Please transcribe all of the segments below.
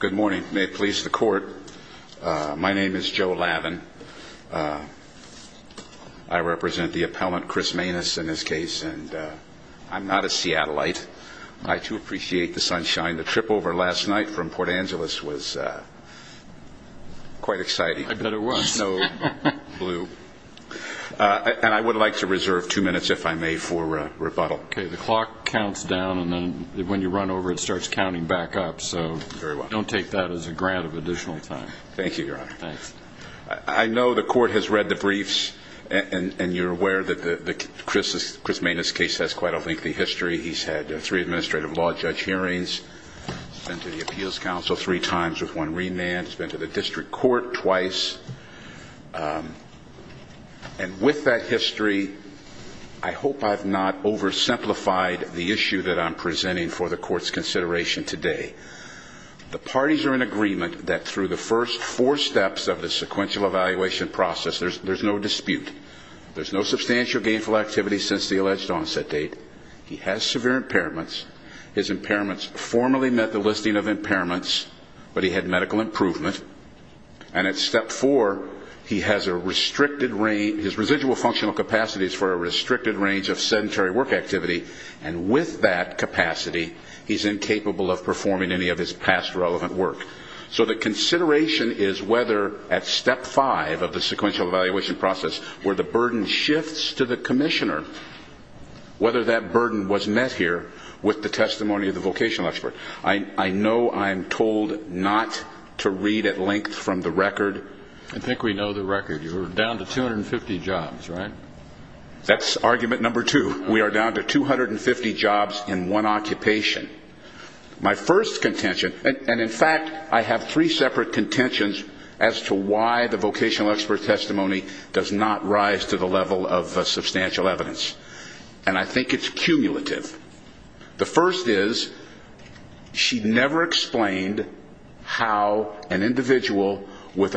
Good morning. May it please the Court, my name is Joe Lavin. I represent the appellant Chris Manes in this case. I'm not a Seattleite. I too appreciate the sunshine. The trip over last night from Port Angeles was quite exciting. I bet it was. No blue. And I would like to The clock counts down and then when you run over it starts counting back up, so don't take that as a grant of additional time. Thank you, Your Honor. I know the Court has read the briefs and you're aware that Chris Manes' case has quite a lengthy history. He's had three administrative law judge hearings. He's been to the Appeals Council three times with one remand. He's been to the District Court twice. And with that history, I hope I've not oversimplified the issue that I'm presenting for the Court's consideration today. The parties are in agreement that through the first four steps of the sequential evaluation process, there's no dispute. There's no substantial gainful activity since the alleged onset date. He has severe impairments. His impairments formally met the listing of impairments, but he had medical improvement. And at step four, his residual functional capacity is for a voluntary work activity. And with that capacity, he's incapable of performing any of his past relevant work. So the consideration is whether at step five of the sequential evaluation process, where the burden shifts to the Commissioner, whether that burden was met here with the testimony of the vocational expert. I know I'm told not to read at length from the record. I think we know the record. You're down to 250 jobs, right? That's argument number two. We are down to 250 jobs in one occupation. My first contention and in fact, I have three separate contentions as to why the vocational expert testimony does not rise to the level of substantial evidence. And I think it's cumulative. The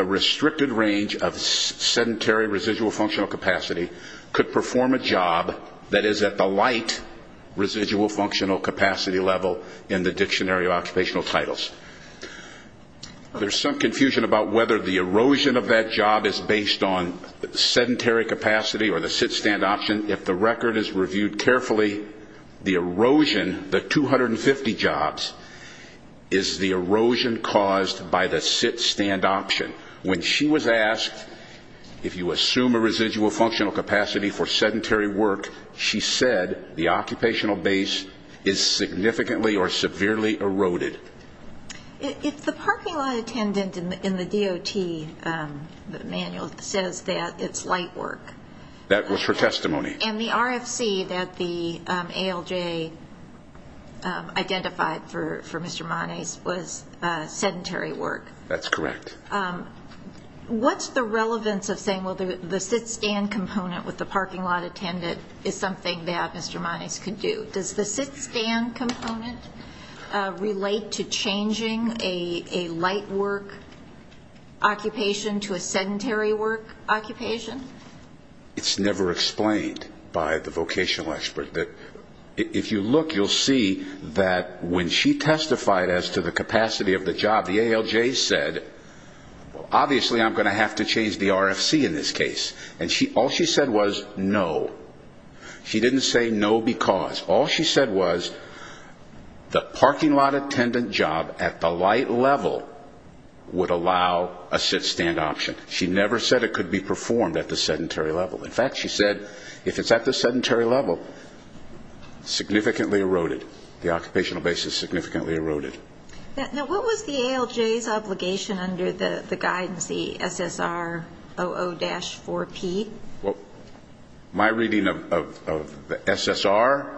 restricted range of sedentary residual functional capacity could perform a job that is at the light residual functional capacity level in the dictionary of occupational titles. There's some confusion about whether the erosion of that job is based on sedentary capacity or the sit-stand option. If the record is reviewed carefully, the erosion, the 250 jobs, is the erosion caused by the sit-stand option. When she was asked if you assume a residual functional capacity for sedentary work, she said the occupational base is significantly or severely eroded. If the parking lot attendant in the DOT manual says that it's light work. That was her testimony. And the RFC that the ALJ identified for Mr. Moniz was sedentary work. That's correct. What's the relevance of saying, well, the sit-stand component with the parking lot attendant is something that Mr. Moniz could do? Does the sit-stand component relate to changing a light work occupation to a sedentary work occupation? It's never explained by the vocational expert. If you look, you'll see that when she testified as to the capacity of the job, the ALJ said, well, obviously I'm going to have to change the RFC in this case. And all she said was no. She didn't say no because. All she said was the parking lot attendant job at the light level would allow a sit-stand option. She never said it could be performed at the sedentary level. In fact, she said if it's at the sedentary level, significantly eroded. The occupational base is significantly eroded. Now, what was the ALJ's obligation under the guidance, the SSR00-4P? My reading of the SSR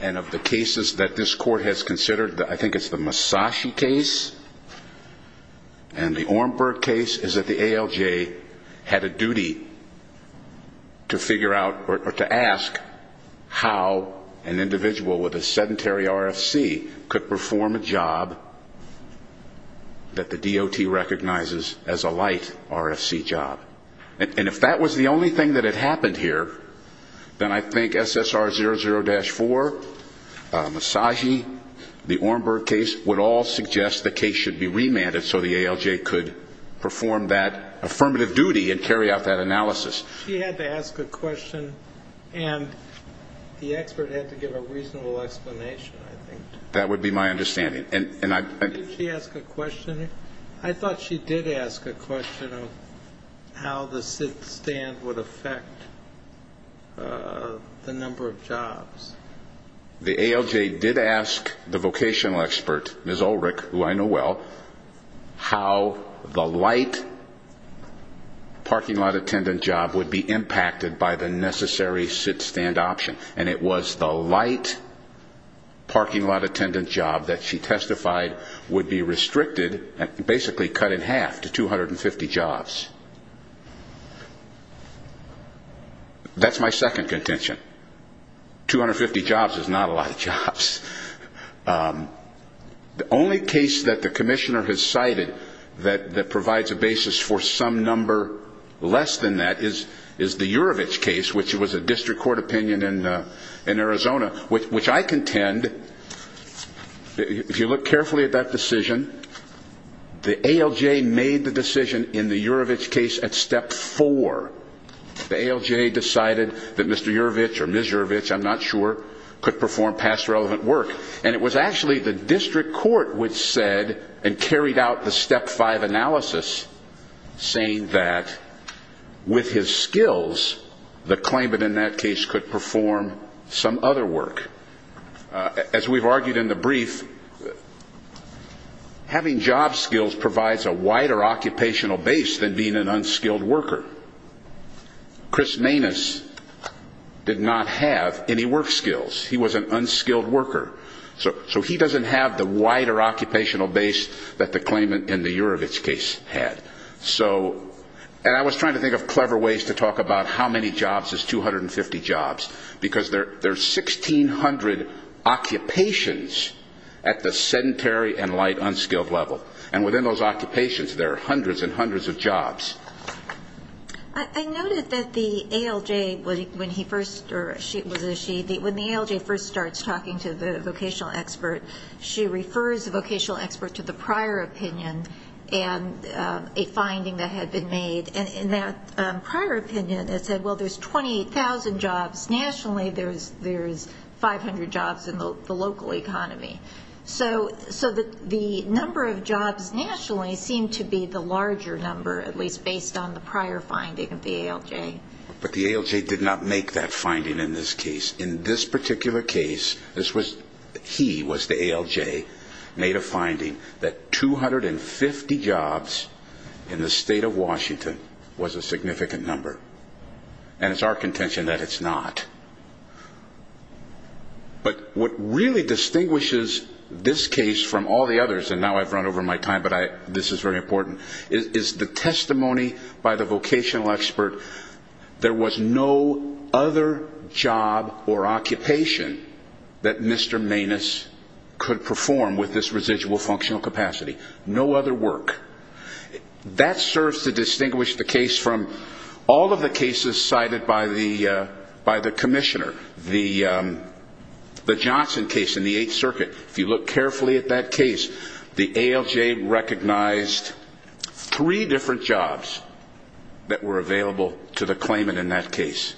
and of the cases that this court has considered, I think it's the ALJ had a duty to figure out or to ask how an individual with a sedentary RFC could perform a job that the DOT recognizes as a light RFC job. And if that was the only thing that had happened here, then I think SSR00-4, Masagi, the Ornberg case would all suggest the case should be remanded so the ALJ could perform that affirmative duty and carry out that analysis. She had to ask a question and the expert had to give a reasonable explanation, I think. That would be my understanding. Did she ask a question? I thought she did ask a question of how the sit-stand would affect the number of jobs. The ALJ did ask the vocational expert, Ms. Ulrich, who I know well, how the light parking lot attendant job would be impacted by the necessary sit-stand option. And it was the light parking lot attendant job that she testified would be restricted, basically cut in half to 250 jobs. That's my second contention. 250 jobs is not a lot of jobs. The only case that the commissioner has cited that provides a basis for some number less than that is the Urovitch case, which was a district court opinion in Arizona, which I contend, if you look carefully at that decision, the ALJ made the decision in the Urovitch case at step four. The ALJ decided that Mr. Urovitch or Ms. Urovitch, I'm not sure, could perform past relevant work. And it was actually the district court which said and carried out the step five analysis saying that with his skills, the claimant in that case could perform some other work. As we've argued in the brief, having job skills provides a wider occupational base than being an unskilled worker. Chris Maness did not have any work skills. He was an unskilled worker. So he doesn't have the wider occupational base that the claimant in the Urovitch case had. So and I was trying to think of clever ways to talk about how many jobs is 250 jobs. Because there are 1,600 occupations at the sedentary and light unskilled level. And within those jobs. I noted that the ALJ, when he first, or she, when the ALJ first starts talking to the vocational expert, she refers the vocational expert to the prior opinion and a finding that had been made. And in that prior opinion, it said, well, there's 28,000 jobs nationally. There's 500 jobs in the local economy. So the number of jobs nationally seemed to be the larger number, at least based on the prior finding of the ALJ. But the ALJ did not make that finding in this case. In this particular case, this was, he was the ALJ, made a finding that 250 jobs in the state of Washington was a significant number. And it's our contention that it's not. But what really distinguishes this case from all the others, and now I've run over my time, but this is very important, is the testimony by the vocational expert. There was no other job or occupation that Mr. Maness could perform with this residual functional capacity. No other work. That serves to distinguish the case from all of the cases cited by the Commissioner. The Johnson case in the Eighth Circuit, if you look carefully at that case, the ALJ recognized three different jobs that were available to the claimant in that case.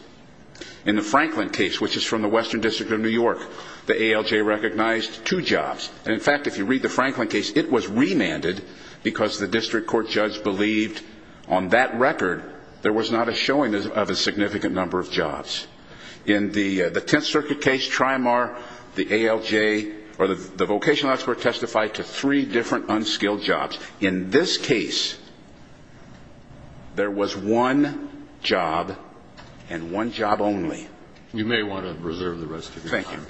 In the Franklin case, which is from the Western District of New York, the ALJ recognized two jobs. And in fact, if you read the Franklin case, it was remanded because the district court judge believed, on that record, there was not a showing of a significant number of jobs. In the Tenth Circuit case, Trimar, the ALJ, or the vocational expert testified to three different unskilled jobs. In this case, there was one job and one job only. You may want to reserve the rest of your time.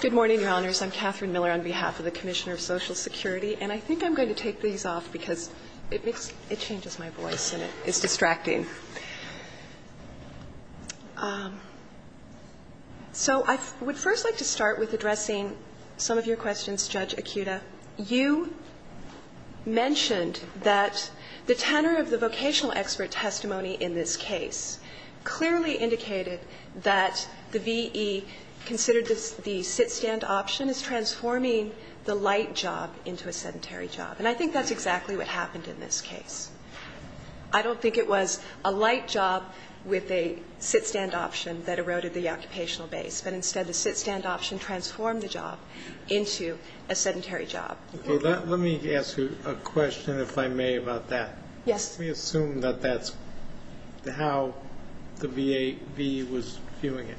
Good morning, Your Honors. I'm Catherine Miller on behalf of the Commissioner of Social Security. And I think I'm going to take these off because it makes my voice and it is distracting. So I would first like to start with addressing some of your questions, Judge Akuta. You mentioned that the tenor of the vocational expert testimony in this case clearly considered the sit-stand option as transforming the light job into a sedentary job. And I think that's exactly what happened in this case. I don't think it was a light job with a sit-stand option that eroded the occupational base, but instead the sit-stand option transformed the job into a sedentary job. Okay. Let me ask you a question, if I may, about that. Yes. Let me assume that that's how the VE was viewing it.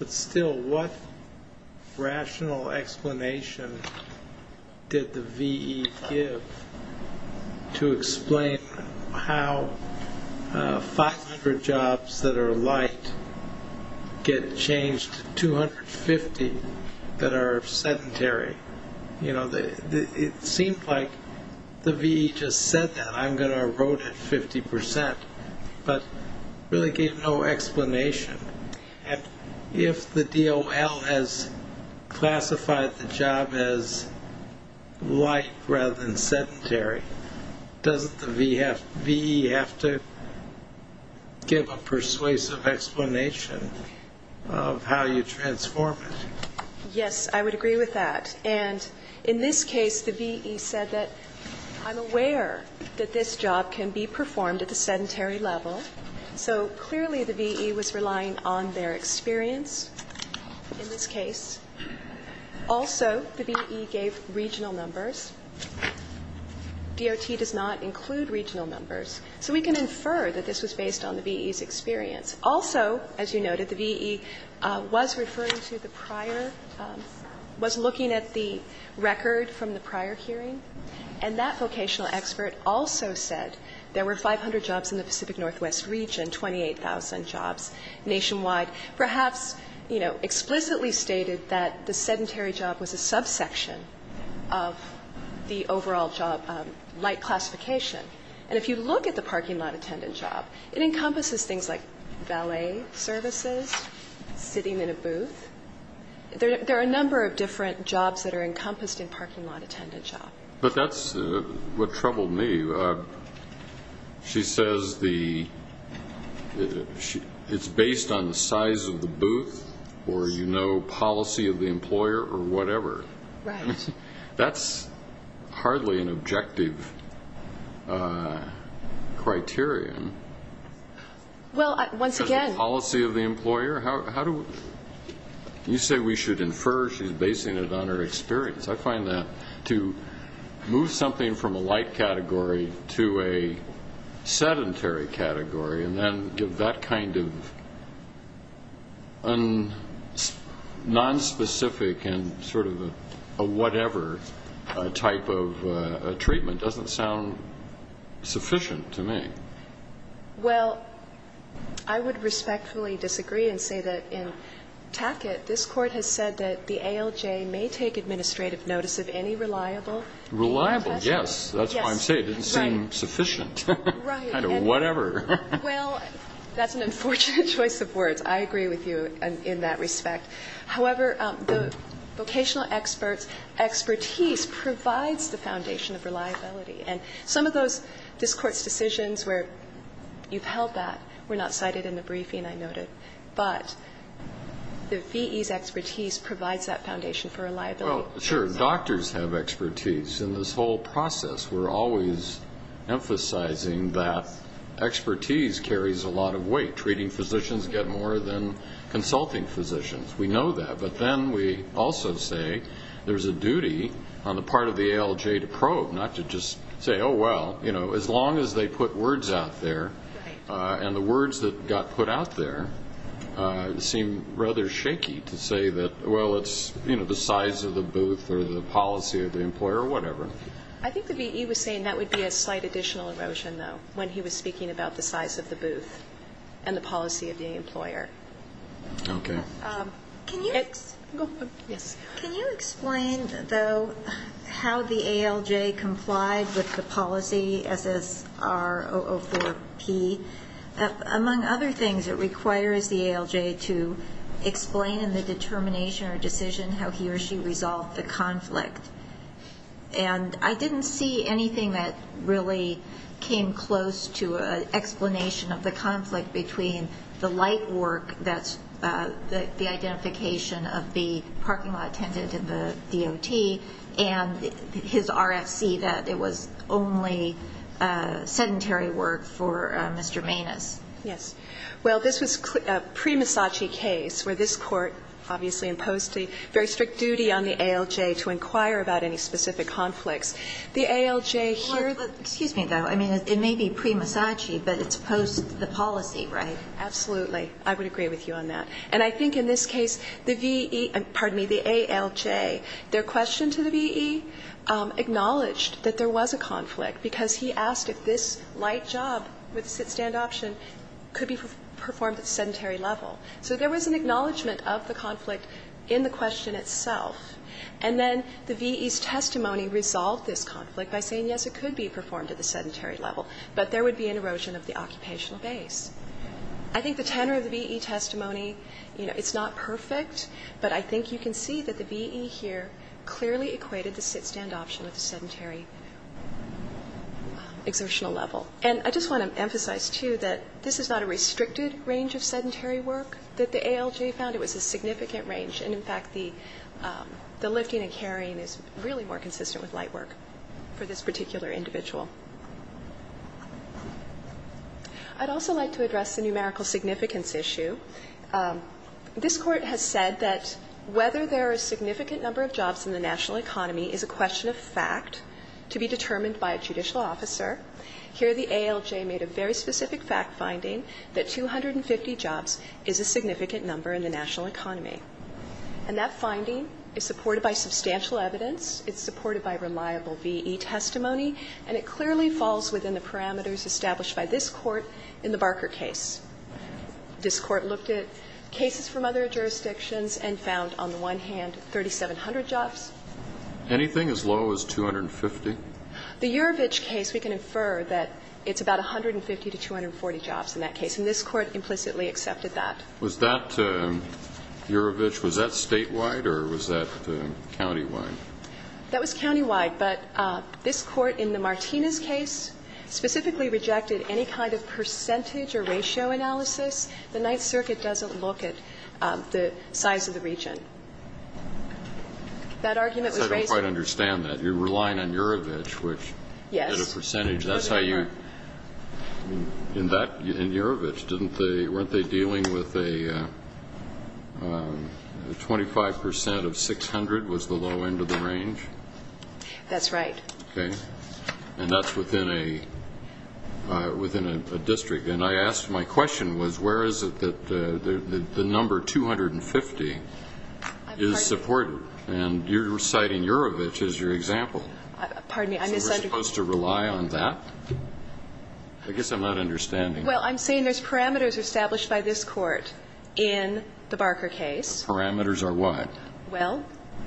But still, what rational explanation did the VE give to explain how 500 jobs that are light get changed to 250 that are sedentary? It seemed like the VE just said that, I'm going to erode it 50%, but really gave no explanation. And if the DOL has classified the job as light rather than sedentary, doesn't the VE have to give a persuasive explanation of how you transform it? Yes, I would agree with that. And in this case, the VE said that, I'm aware that this job can be performed at the sedentary level. So clearly, the VE was relying on their experience in this case. Also, the VE gave regional numbers. DOT does not include regional numbers. So we can infer that this was based on the VE's experience. Also, as you noted, the VE was referring to the prior, was looking at the record from the prior hearing. And that vocational expert also said there were 500 jobs in the Pacific Northwest region, 28,000 jobs nationwide. Perhaps, you know, explicitly stated that the sedentary job was a subsection of the overall job light classification. And if you look at the parking lot attendant job, it encompasses things like valet services, sitting in a booth. There are a number of different jobs that are encompassed in parking lot attendant job. But that's what troubled me. She says it's based on the size of the booth, or you know criterion. Because of the policy of the employer? You say we should infer, she's basing it on her experience. I find that to move something from a light category to a sedentary category and then give that kind of non-specific and sort of a whatever type of treatment doesn't sound sufficient to me. Well, I would respectfully disagree and say that in Tackett, this Court has said that the ALJ may take administrative notice of any reliable. Reliable, yes. That's why I'm saying it didn't seem sufficient. Right. Kind of whatever. Well, that's an unfortunate choice of words. I agree with you in that respect. However, the vocational expert's expertise provides the foundation of reliability. And some of this Court's decisions where you've held that were not cited in the briefing, I noted. But the V.E.'s expertise provides that foundation for reliability. Well, sure. Doctors have expertise in this whole process. We're always emphasizing that we know that. But then we also say there's a duty on the part of the ALJ to probe, not to just say, oh, well, as long as they put words out there. Right. And the words that got put out there seem rather shaky to say that, well, it's the size of the booth or the policy of the employer or whatever. I think the V.E. was saying that would be a slight additional erosion, though, when he was speaking about the size of the booth and the policy of the employer. Okay. Can you explain, though, how the ALJ complied with the policy SSR004P? Among other things, it requires the ALJ to explain in the determination or decision how he or she resolved the conflict. And I didn't see anything that really came close to an explanation of the identification of the parking lot attendant and the DOT and his RFC, that it was only sedentary work for Mr. Maness. Yes. Well, this was a pre-Misaci case where this Court obviously imposed a very strict duty on the ALJ to inquire about any specific conflicts. The ALJ here the Well, excuse me, though. I mean, it may be pre-Misaci, but it's post the policy, right? Absolutely. I would agree with you on that. And I think in this case, the V.E. pardon me, the ALJ, their question to the V.E. acknowledged that there was a conflict because he asked if this light job with the sit-stand option could be performed at the sedentary level. So there was an acknowledgement of the conflict in the question itself. And then the V.E.'s testimony resolved this conflict by saying, yes, it could be performed at the sedentary level, but there would be an erosion of the occupational base. I think the tenor of the V.E. testimony, you know, it's not perfect, but I think you can see that the V.E. here clearly equated the sit-stand option with the sedentary exertional level. And I just want to emphasize, too, that this is not a restricted range of sedentary work that the ALJ found. It was a significant range. And, in fact, the lifting and carrying is really more consistent with light work for this particular individual. I'd also like to address the numerical significance issue. This Court has said that whether there are a significant number of jobs in the national economy is a question of fact to be determined by a judicial officer. Here the ALJ made a very specific fact finding that 250 jobs is a significant number in the national economy. And that finding is supported by substantial evidence, it's supported by reliable V.E. testimony, and it clearly falls within the parameters established by this Court in the Barker case. This Court looked at cases from other jurisdictions and found, on the one hand, 3,700 jobs. Anything as low as 250? The Urovitch case, we can infer that it's about 150 to 240 jobs in that case, and this Court implicitly accepted that. Was that Urovitch, was that statewide or was that countywide? That was countywide, but this Court in the Martinez case specifically rejected any kind of percentage or ratio analysis. The Ninth Circuit doesn't look at the size of the region. That argument was raised. I don't quite understand that. You're relying on Urovitch, which had a percentage. Yes. That's how you, in that, in Urovitch, didn't they, weren't they dealing with a 25 percent of 600 was the low end of the range? That's right. Okay. And that's within a, within a district. And I asked, my question was, where is it that the number 250 is supported? And you're citing Urovitch as your example. Pardon me, I misunderstood. So we're supposed to rely on that? I guess I'm not understanding. Well, I'm saying there's parameters established by this Court in the Barker case. Those parameters are what? Well,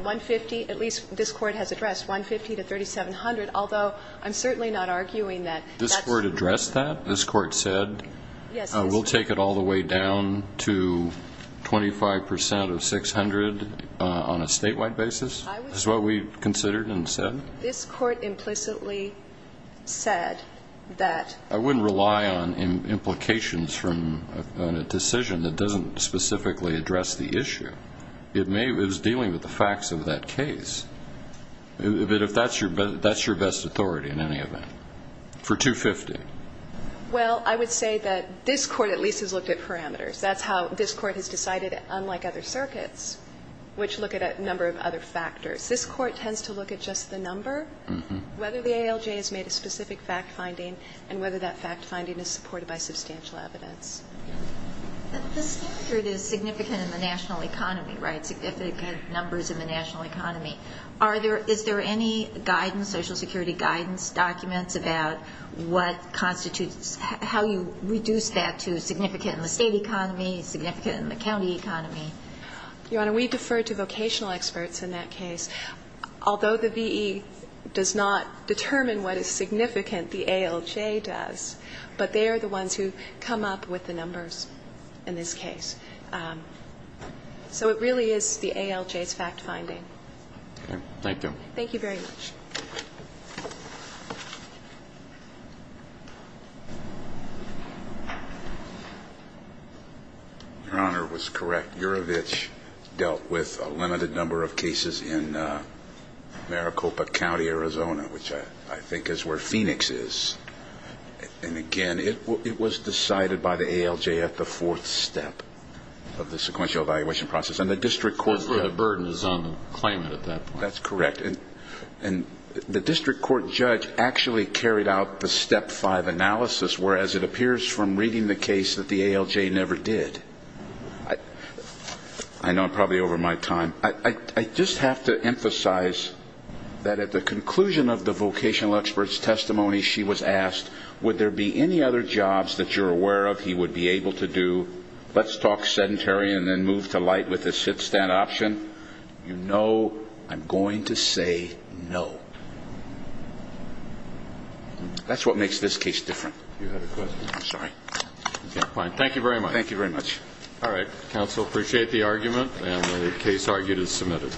150, at least this Court has addressed, 150 to 3,700, although I'm certainly not arguing that. This Court addressed that? This Court said we'll take it all the way down to 25 percent of 600 on a statewide basis, is what we considered and said? This Court implicitly said that. I wouldn't rely on implications from a decision that doesn't specifically address the issue. It may, it was dealing with the facts of that case. But if that's your, that's your best authority in any event, for 250. Well, I would say that this Court at least has looked at parameters. That's how this Court has decided, unlike other circuits, which look at a number of other factors. This Court tends to look at just the number, whether the ALJ has made a specific fact finding, and whether that fact finding is supported by substantial evidence. The standard is significant in the national economy, right, significant numbers in the national economy. Are there, is there any guidance, Social Security guidance documents about what constitutes, how you reduce that to significant in the state economy, significant in the county economy? Your Honor, we defer to vocational experts in that case. Although the V.E. does not determine what is significant, the ALJ does. But they are the ones who come up with the numbers in this case. So it really is the ALJ's fact finding. Okay. Thank you. Thank you very much. Your Honor was correct. Urovitch dealt with a limited number of cases in Maricopa County, Arizona, which I think is where Phoenix is. And again, it was decided by the ALJ at the fourth step of the sequential evaluation process. And the district court. That's where the burden is on the claimant at that point. That's correct. And the district court judge actually carried out the step five analysis, whereas it appears from reading the case that the ALJ never did. I know I'm probably over my time. I just have to emphasize that at the conclusion of the vocational experts testimony, she was asked, would there be any other jobs that you're aware of he would be able to do? Let's talk sedentary and then move to light with a sit-stand option. You know I'm going to say no. That's what makes this case different. You have a question? I'm sorry. Thank you very much. Thank you very much. All right. Thank you very much, counsel. Appreciate the argument. Case argued and submitted.